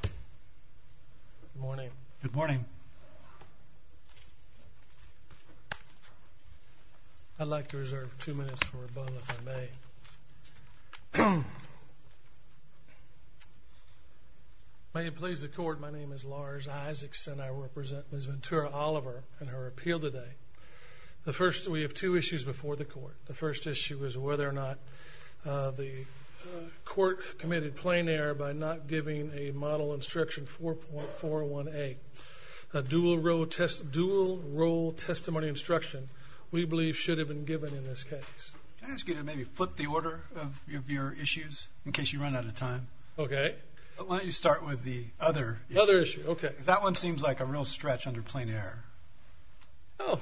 Good morning. Good morning. I'd like to reserve two minutes for rebuttal if I may. May it please the court, my name is Lars Isaacson and I will present Ms. Ventura-Oliver and her appeal today. The first, we have two issues before the court. The first issue is whether or not the court committed plain error by not giving a model instruction 4.41A, a dual role testimony instruction we believe should have been given in this case. Can I ask you to maybe flip the order of your issues in case you run out of time? Okay. Why don't you start with the other issue? Other issue, okay. That one seems like a real stretch under plain error. Oh.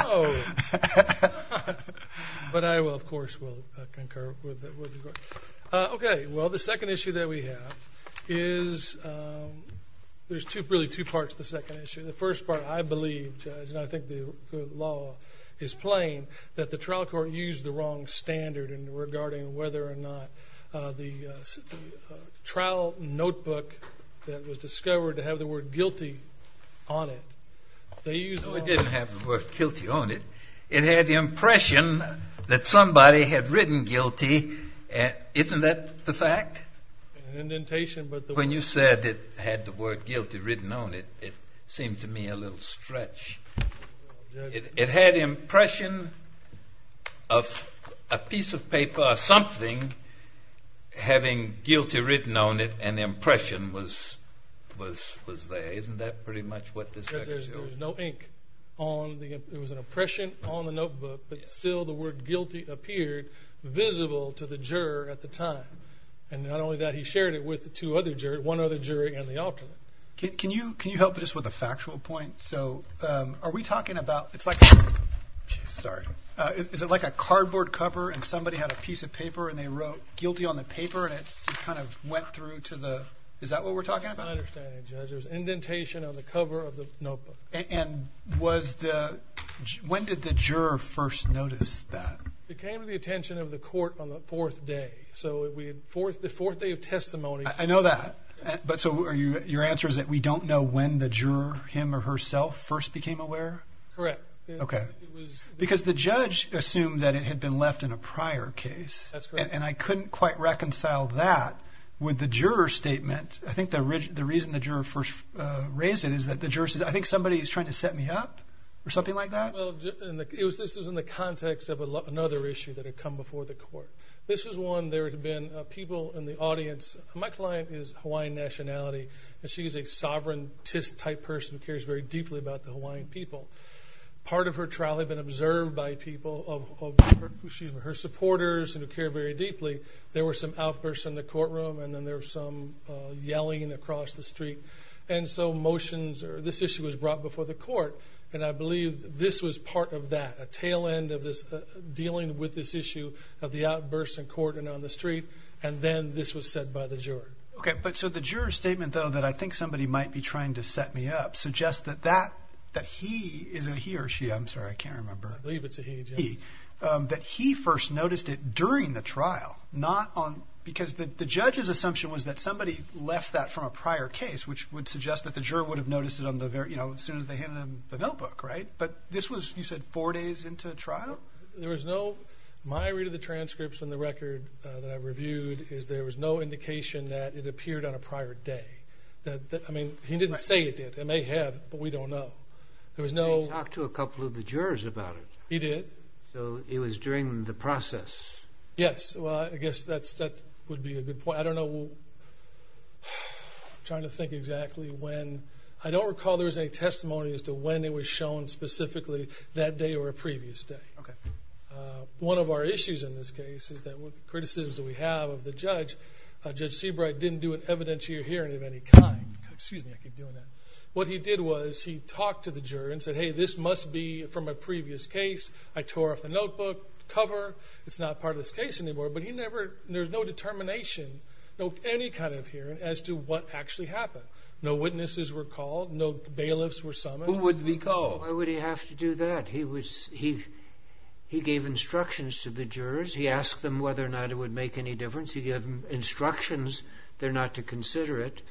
Oh. But I will, of course, will concur with the court. Okay. Well, the second issue that we have is, there's really two parts to the second issue. The first part, I believe, Judge, and I think the law is plain, that the trial court used the wrong standard regarding whether or not the trial notebook that was discovered to have the word guilty on it. No, it didn't have the word guilty on it. It had the impression that somebody had written guilty. Isn't that the fact? An indentation. When you said it had the word guilty written on it, it seemed to me a little stretch. It had the impression of a piece of paper or something having guilty written on it, and the impression was there. Isn't that pretty much what this record shows? There was no ink. It was an impression on the notebook, but still the word guilty appeared visible to the juror at the time. And not only that, he shared it with one other jury and the alternate. Can you help just with a factual point? So are we talking about, it's like a cardboard cover, and somebody had a piece of paper, and they wrote guilty on the paper, and it kind of went through to the, is that what we're talking about? I understand, Judge. There's indentation on the cover of the notebook. And was the, when did the juror first notice that? It came to the attention of the court on the fourth day, so the fourth day of testimony. I know that, but so your answer is that we don't know when the juror, him or herself, first became aware? Correct. Okay. Because the judge assumed that it had been left in a prior case. That's correct. And I couldn't quite reconcile that with the juror's statement. I think the reason the juror first raised it is that the juror said, I think somebody is trying to set me up, or something like that? Well, this was in the context of another issue that had come before the court. This was one, there had been people in the audience, my client is Hawaiian nationality, and she's a sovereign type person who cares very deeply about the Hawaiian people. Part of her trial had been observed by people of, excuse me, her supporters who care very deeply. There were some outbursts in the courtroom, and then there were some yelling across the street. And so motions, or this issue was brought before the court. And I believe this was part of that, a tail end of this, dealing with this issue of the outbursts in court and on the street. And then this was said by the juror. Okay, but so the juror's statement, though, that I think somebody might be trying to set me up, suggests that that, that he, is it he or she, I'm sorry, I can't remember. I believe it's a he. He. That he first noticed it during the trial, not on, because the judge's assumption was that somebody left that from a prior case, which would suggest that the juror would have noticed it on the, you know, as soon as they handed him the notebook, right? But this was, you said, four days into the trial? There was no, my read of the transcripts from the record that I reviewed is there was no indication that it appeared on a prior day. That, I mean, he didn't say it did. It may have, but we don't know. There was no. He talked to a couple of the jurors about it. He did. So it was during the process. Yes. Well, I guess that's, that would be a good point. I don't know. I'm trying to think exactly when. I don't recall there was any testimony as to when it was shown specifically that day or a previous day. Okay. One of our issues in this case is that with criticisms that we have of the judge, Judge Seabright didn't do an evidentiary hearing of any kind. Excuse me, I keep doing that. What he did was he talked to the juror and said, hey, this must be from a previous case. I tore off the notebook cover. It's not part of this case anymore. But he never, there's no determination, no, any kind of hearing as to what actually happened. No witnesses were called. No bailiffs were summoned. Who would be called? Why would he have to do that? He was, he, he gave instructions to the jurors. He asked them whether or not it would make any difference. He gave them instructions. They're not to consider it.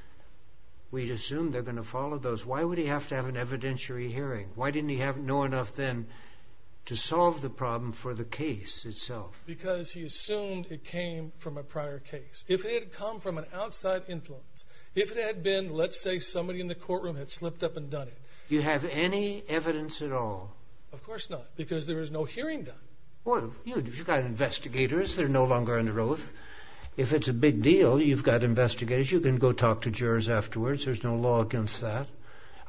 We'd assume they're going to follow those. Why would he have to have an evidentiary hearing? Why didn't he have, know enough then to solve the problem for the case itself? Because he assumed it came from a prior case. If it had come from an outside influence, if it had been, let's say, somebody in the courtroom had slipped up and done it. You have any evidence at all? Of course not, because there is no hearing done. Well, you've got investigators. They're no longer under oath. If it's a big deal, you've got investigators. You can go talk to jurors afterwards. There's no law against that.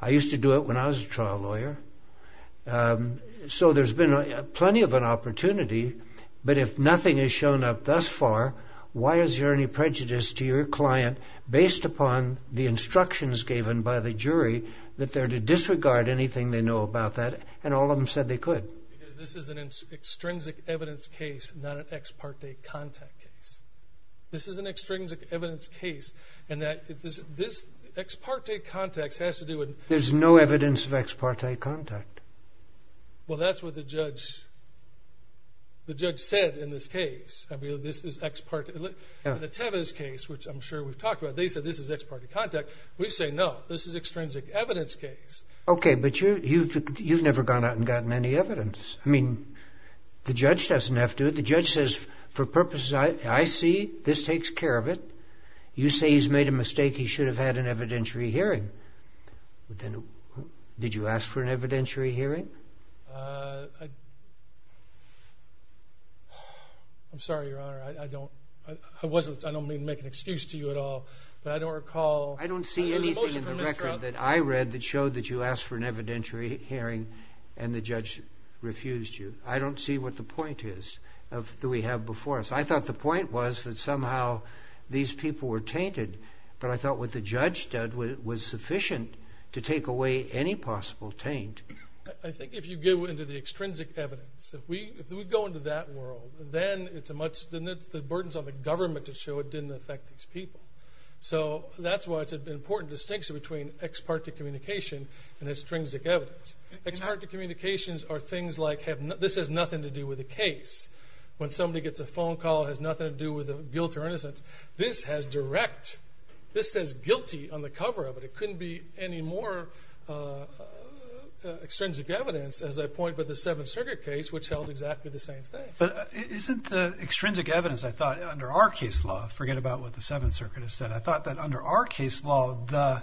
I used to do it when I was a trial lawyer. So there's been plenty of an opportunity, but if nothing has shown up thus far, why is there any prejudice to your client based upon the instructions given by the jury that they're to disregard anything they know about that, and all of them said they could? Because this is an extrinsic evidence case, not an ex parte contact case. This is an extrinsic evidence case, and that, this, this ex parte context has to do with There's no evidence of ex parte contact. Well, that's what the judge said in this case. This is ex parte. In the Tevez case, which I'm sure we've talked about, they said this is ex parte contact. We say, no, this is an extrinsic evidence case. Okay, but you've never gone out and gotten any evidence. I mean, the judge doesn't have to. The judge says, for purposes I see, this takes care of it. You say he's made a mistake. He should have had an evidentiary hearing. Did you ask for an evidentiary hearing? I'm sorry, Your Honor. I don't, I wasn't, I don't mean to make an excuse to you at all, but I don't recall. I don't see anything in the record that I read that showed that you asked for an evidentiary hearing and the judge refused you. I don't see what the point is that we have before us. I thought the point was that somehow these people were tainted, but I thought what the judge did was sufficient to take away any possible taint. I think if you go into the extrinsic evidence, if we go into that world, then it's a much, the burdens on the government to show it didn't affect these people. So that's why it's an important distinction between ex parte communication and extrinsic evidence. Ex parte communications are things like, this has nothing to do with the case. When somebody gets a phone call, it has nothing to do with guilt or innocence. This has direct, this says guilty on the cover of it. It couldn't be any more extrinsic evidence, as I point with the Seventh Circuit case, which held exactly the same thing. But isn't the extrinsic evidence, I thought, under our case law, forget about what the Seventh Circuit has said, I thought that under our case law the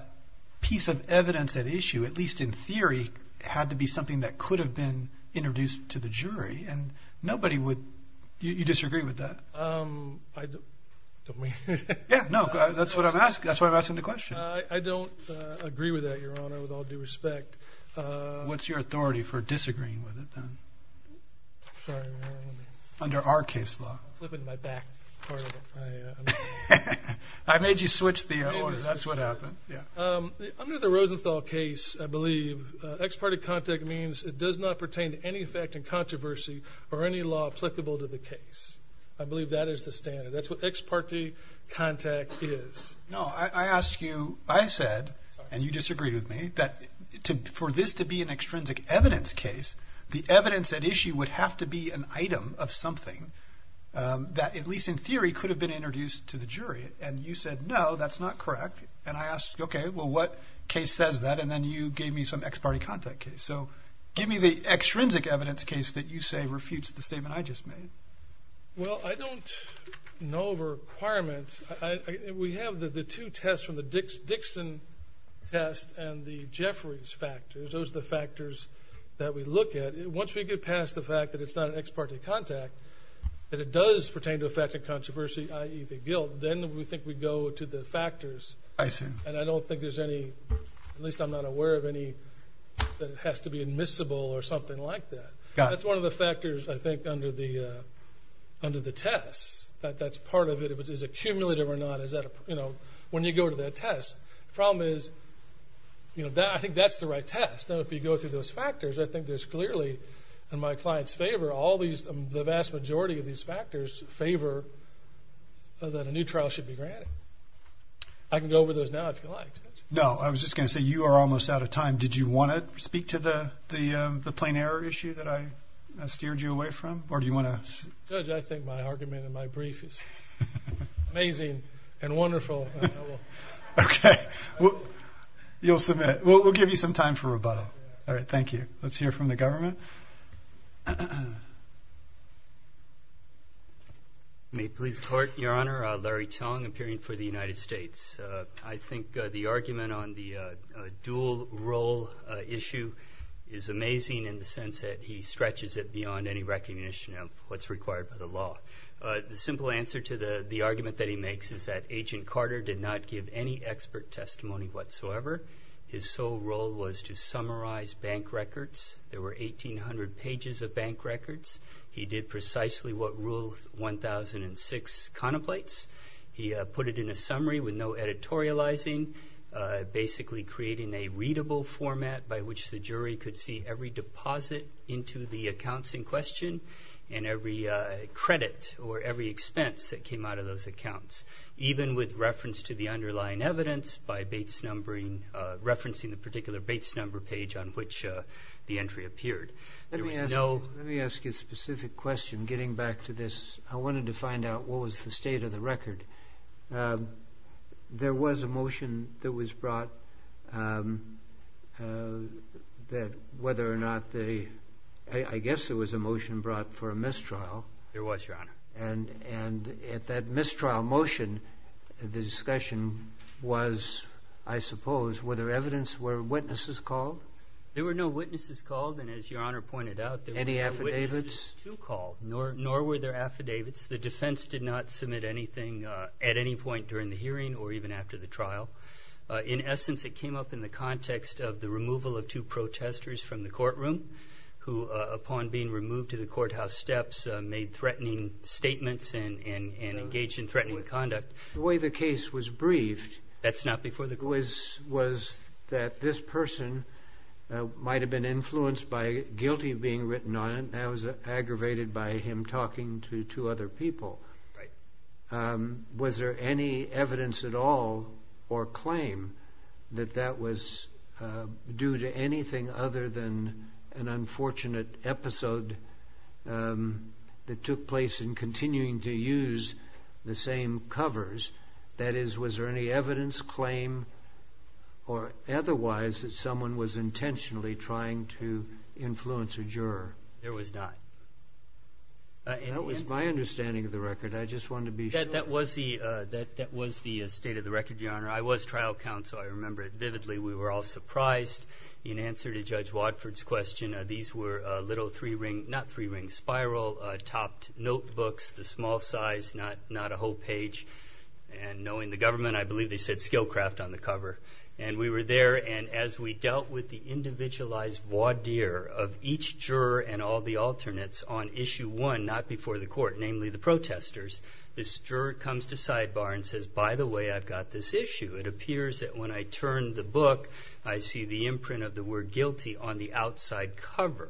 piece of evidence at issue, at least in theory, had to be something that could have been introduced to the jury, and nobody would, you disagree with that? I don't, don't mean. Yeah, no, that's what I'm asking. That's why I'm asking the question. I don't agree with that, Your Honor, with all due respect. What's your authority for disagreeing with it then? Sorry, let me. Under our case law. Flipping my back part of it. I made you switch the order. That's what happened. Under the Rosenthal case, I believe, ex parte contact means it does not pertain to any effect in controversy or any law applicable to the case. I believe that is the standard. That's what ex parte contact is. No, I asked you, I said, and you disagreed with me, that for this to be an extrinsic evidence case, the evidence at issue would have to be an item of something that, at least in theory, could have been introduced to the jury. And you said, no, that's not correct. And I asked, okay, well, what case says that? And then you gave me some ex parte contact case. So give me the extrinsic evidence case that you say refutes the statement I just made. Well, I don't know of a requirement. We have the two tests from the Dixon test and the Jeffries factors. Those are the factors that we look at. Once we get past the fact that it's not an ex parte contact, that it does pertain to effect in controversy, i.e., the guilt, then we think we go to the factors. I see. And I don't think there's any, at least I'm not aware of any, that it has to be admissible or something like that. Got it. That's one of the factors, I think, under the test, that that's part of it. Is it cumulative or not? When you go to that test, the problem is, I think that's the right test. If you go through those factors, I think there's clearly, in my client's favor, the vast majority of these factors favor that a new trial should be granted. I can go over those now if you like. No, I was just going to say you are almost out of time. Did you want to speak to the plain error issue that I steered you away from? Or do you want to? Judge, I think my argument in my brief is amazing and wonderful. Okay. You'll submit. We'll give you some time for rebuttal. All right, thank you. Let's hear from the government. May it please the Court. Your Honor, Larry Tong, appearing for the United States. I think the argument on the dual role issue is amazing in the sense that he stretches it beyond any recognition of what's required by the law. The simple answer to the argument that he makes is that Agent Carter did not give any expert testimony whatsoever. His sole role was to summarize bank records. There were 1,800 pages of bank records. He did precisely what Rule 1006 contemplates. He put it in a summary with no editorializing, basically creating a readable format by which the jury could see every deposit into the accounts in question and every credit or every expense that came out of those accounts. Even with reference to the underlying evidence by referencing the particular dates number page on which the entry appeared. Let me ask you a specific question getting back to this. I wanted to find out what was the state of the record. There was a motion that was brought that whether or not the ‑‑ I guess there was a motion brought for a mistrial. There was, Your Honor. And at that mistrial motion, the discussion was, I suppose, were there evidence, were witnesses called? There were no witnesses called. And as Your Honor pointed out, there were no witnesses to call. Nor were there affidavits. The defense did not submit anything at any point during the hearing or even after the trial. In essence, it came up in the context of the removal of two protesters from the courtroom who, upon being removed to the courthouse steps, made threatening statements and engaged in threatening conduct. The way the case was briefed. That's not before the court. Was that this person might have been influenced by guilty being written on and that was aggravated by him talking to two other people. Right. Was there any evidence at all or claim that that was due to anything other than an unfortunate episode that took place in continuing to use the same covers? That is, was there any evidence, claim, or otherwise that someone was intentionally trying to influence a juror? There was not. That was my understanding of the record. I just wanted to be sure. That was the state of the record, Your Honor. I was trial counsel. I remember it vividly. We were all surprised. In answer to Judge Wadford's question, these were little three-ring, not three-ring spiral topped notebooks, the small size, not a whole page. Knowing the government, I believe they said skill craft on the cover. We were there. As we dealt with the individualized voir dire of each juror and all the alternates on issue one, not before the court, namely the protesters, this juror comes to sidebar and says, by the way, I've got this issue. It appears that when I turn the book, I see the imprint of the word guilty on the outside cover.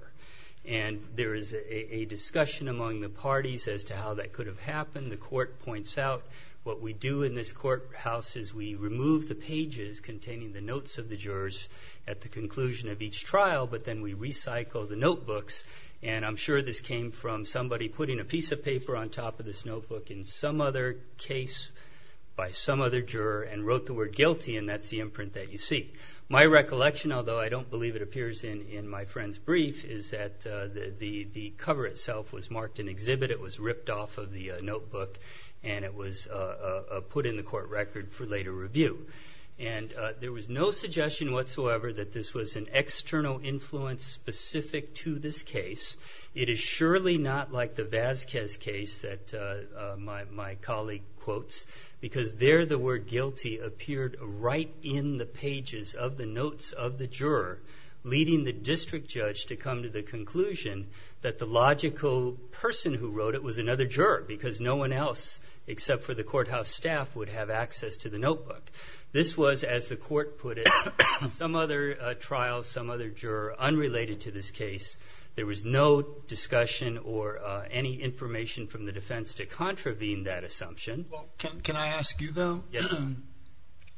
There is a discussion among the parties as to how that could have happened. The court points out what we do in this courthouse is we remove the pages containing the notes of the jurors at the conclusion of each trial, but then we recycle the notebooks. I'm sure this came from somebody putting a piece of paper on top of this notebook in some other case by some other juror and wrote the word guilty, and that's the imprint that you see. My recollection, although I don't believe it appears in my friend's brief, is that the cover itself was marked an exhibit. It was ripped off of the notebook, and it was put in the court record for later review. There was no suggestion whatsoever that this was an external influence specific to this case. It is surely not like the Vasquez case that my colleague quotes, because there the word guilty appeared right in the pages of the notes of the juror, leading the district judge to come to the conclusion that the logical person who wrote it was another juror because no one else except for the courthouse staff would have access to the notebook. This was, as the court put it, some other trial, some other juror unrelated to this case. There was no discussion or any information from the defense to contravene that assumption. Can I ask you, though,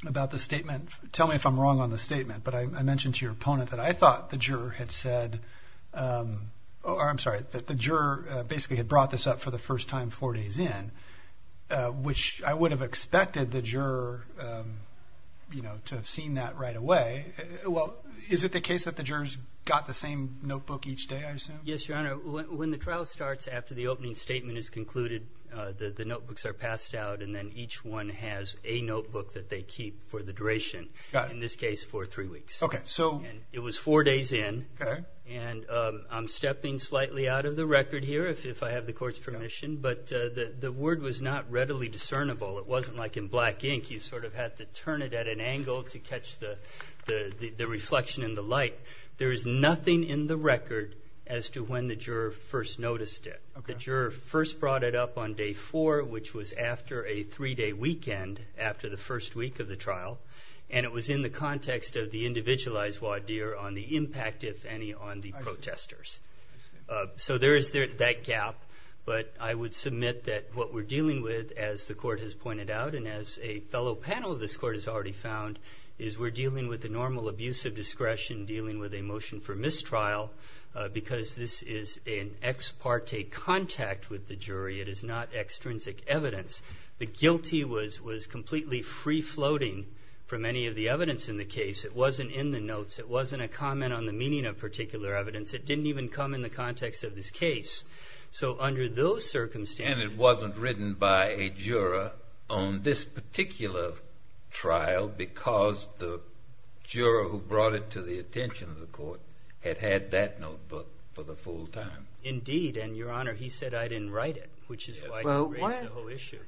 about the statement? Tell me if I'm wrong on the statement, but I mentioned to your opponent that I thought the juror had said or, I'm sorry, that the juror basically had brought this up for the first time four days in, which I would have expected the juror to have seen that right away. Well, is it the case that the jurors got the same notebook each day, I assume? Yes, Your Honor. When the trial starts after the opening statement is concluded, the notebooks are passed out, and then each one has a notebook that they keep for the duration, in this case for three weeks. Okay. It was four days in, and I'm stepping slightly out of the record here if I have the court's permission, but the word was not readily discernible. It wasn't like in black ink. You sort of had to turn it at an angle to catch the reflection in the light. There is nothing in the record as to when the juror first noticed it. The juror first brought it up on day four, which was after a three-day weekend after the first week of the trial, and it was in the context of the individualized voir dire on the impact, if any, on the protesters. So there is that gap, but I would submit that what we're dealing with, as the court has pointed out and as a fellow panel of this court has already found, is we're dealing with the normal abuse of discretion dealing with a motion for mistrial because this is an ex parte contact with the jury. It is not extrinsic evidence. The guilty was completely free-floating from any of the evidence in the case. It wasn't in the notes. It wasn't a comment on the meaning of particular evidence. It didn't even come in the context of this case. So under those circumstances. And it wasn't written by a juror on this particular trial because the juror who brought it to the attention of the court had had that notebook for the full time. Indeed, and, Your Honor, he said I didn't write it, which is why he raised the whole issue.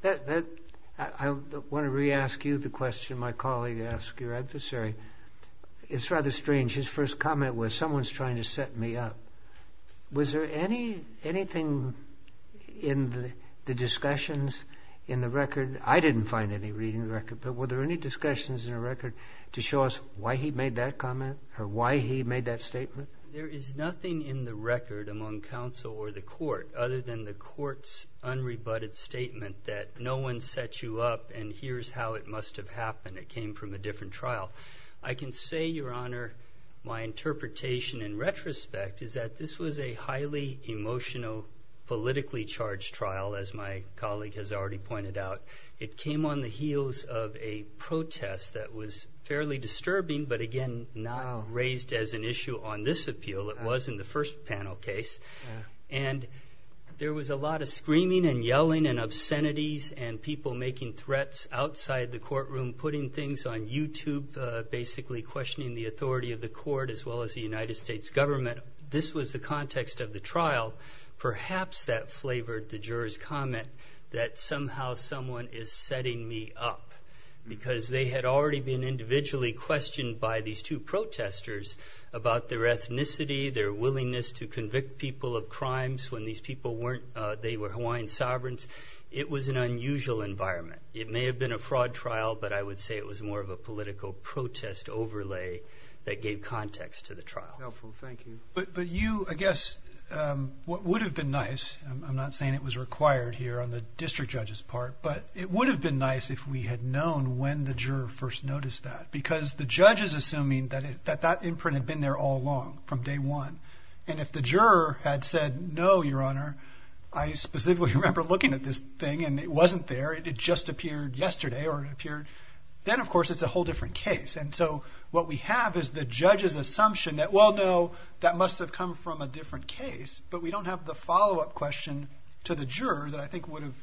I want to re-ask you the question my colleague asked your adversary. It's rather strange. His first comment was someone's trying to set me up. Was there anything in the discussions in the record? I didn't find any reading the record, but were there any discussions in the record to show us why he made that comment or why he made that statement? There is nothing in the record among counsel or the court other than the court's unrebutted statement that no one set you up, and here's how it must have happened. It came from a different trial. I can say, Your Honor, my interpretation in retrospect is that this was a highly emotional, politically charged trial, as my colleague has already pointed out. It came on the heels of a protest that was fairly disturbing, but, again, not raised as an issue on this appeal. It was in the first panel case. There was a lot of screaming and yelling and obscenities and people making threats outside the courtroom, putting things on YouTube, basically questioning the authority of the court as well as the United States government. This was the context of the trial. Perhaps that flavored the juror's comment that somehow someone is setting me up because they had already been individually questioned by these two protesters about their ethnicity, their willingness to convict people of crimes when these people were Hawaiian sovereigns. It was an unusual environment. It may have been a fraud trial, but I would say it was more of a political protest overlay that gave context to the trial. Helpful. Thank you. But you, I guess, what would have been nice, I'm not saying it was required here on the district judge's part, but it would have been nice if we had known when the juror first noticed that because the judge is assuming that that imprint had been there all along from day one. And if the juror had said, no, your honor, I specifically remember looking at this thing and it wasn't there, it just appeared yesterday or it appeared, then, of course, it's a whole different case. And so what we have is the judge's assumption that, well, no, that must have come from a different case, but we don't have the follow-up question to the juror that I think would have,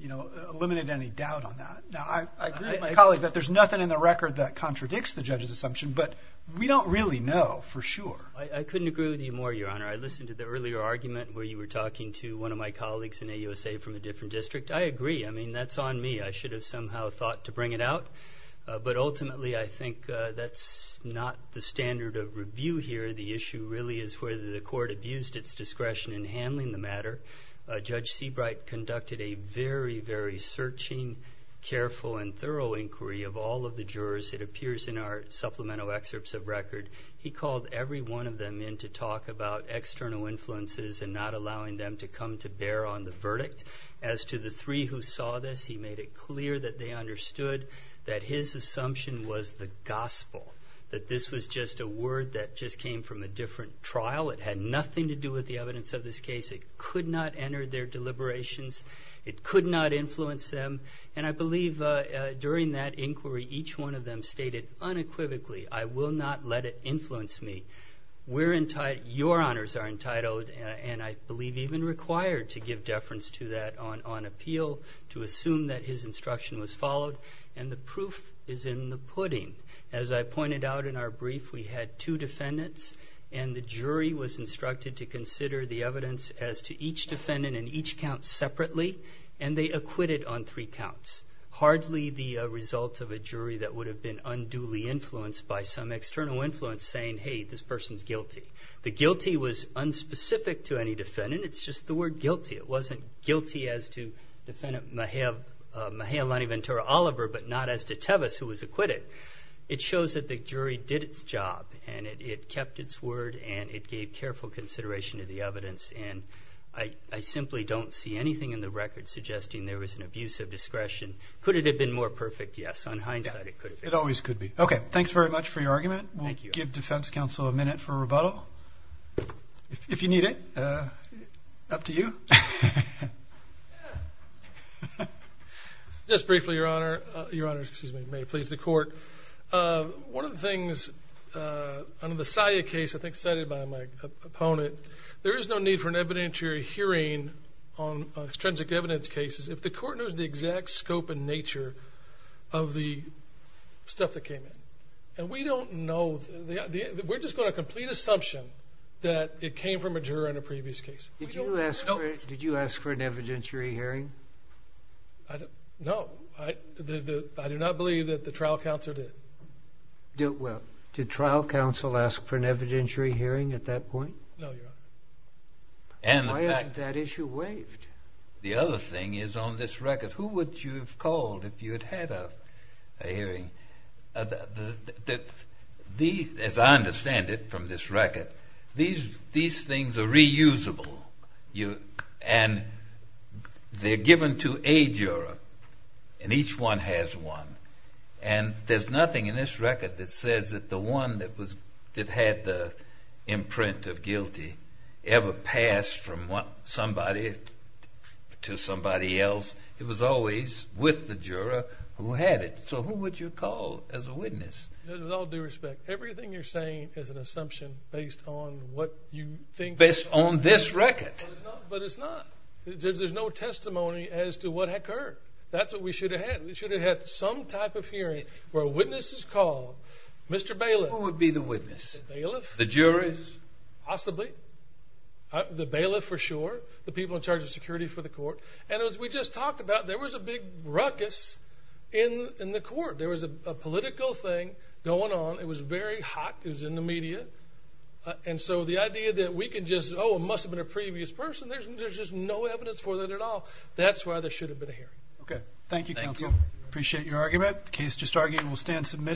you know, eliminated any doubt on that. Now, I agree with my colleague that there's nothing in the record that contradicts the judge's assumption, but we don't really know for sure. I couldn't agree with you more, your honor. I listened to the earlier argument where you were talking to one of my colleagues in AUSA from a different district. I agree. I mean, that's on me. I should have somehow thought to bring it out. But ultimately, I think that's not the standard of review here. The issue really is whether the court abused its discretion in handling the matter. Judge Seabright conducted a very, very searching, careful, and thorough inquiry of all of the jurors, it appears in our supplemental excerpts of record. He called every one of them in to talk about external influences and not allowing them to come to bear on the verdict. As to the three who saw this, he made it clear that they understood that his assumption was the gospel, that this was just a word that just came from a different trial. It had nothing to do with the evidence of this case. It could not enter their deliberations. It could not influence them. And I believe during that inquiry, each one of them stated unequivocally, I will not let it influence me. Your honors are entitled, and I believe even required, to give deference to that on appeal, to assume that his instruction was followed. And the proof is in the pudding. As I pointed out in our brief, we had two defendants, and the jury was instructed to consider the evidence as to each defendant and each count separately, and they acquitted on three counts. Hardly the result of a jury that would have been unduly influenced by some external influence saying, hey, this person's guilty. The guilty was unspecific to any defendant. It's just the word guilty. It wasn't guilty as to defendant Mahealani Ventura Oliver, but not as to Tevis, who was acquitted. It shows that the jury did its job, and it kept its word, and it gave careful consideration to the evidence. And I simply don't see anything in the record suggesting there was an abuse of discretion. Could it have been more perfect? Yes, on hindsight it could have been. It always could be. Okay, thanks very much for your argument. We'll give defense counsel a minute for rebuttal. If you need it, up to you. Just briefly, Your Honor, may it please the court. One of the things under the SIA case, I think cited by my opponent, there is no need for an evidentiary hearing on extrinsic evidence cases if the court knows the exact scope and nature of the stuff that came in. And we don't know. We're just going to complete assumption that it came from a juror in a previous case. Did you ask for an evidentiary hearing? No. I do not believe that the trial counsel did. Well, did trial counsel ask for an evidentiary hearing at that point? No, Your Honor. Why isn't that issue waived? The other thing is on this record, who would you have called if you had had a hearing? As I understand it from this record, these things are reusable. And they're given to a juror, and each one has one. And there's nothing in this record that says that the one that had the imprint of guilty ever passed from somebody to somebody else. It was always with the juror who had it. So who would you call as a witness? With all due respect, everything you're saying is an assumption based on what you think. Based on this record. But it's not. There's no testimony as to what occurred. That's what we should have had. We should have had some type of hearing where a witness is called. Mr. Bailiff. Who would be the witness? The bailiff. The jurors? Possibly. The bailiff for sure. The people in charge of security for the court. And as we just talked about, there was a big ruckus in the court. There was a political thing going on. It was very hot. It was in the media. And so the idea that we can just, oh, it must have been a previous person, there's just no evidence for that at all. That's why there should have been a hearing. Okay. Thank you, counsel. Thank you. Appreciate your argument. The case just argued and will stand submitted.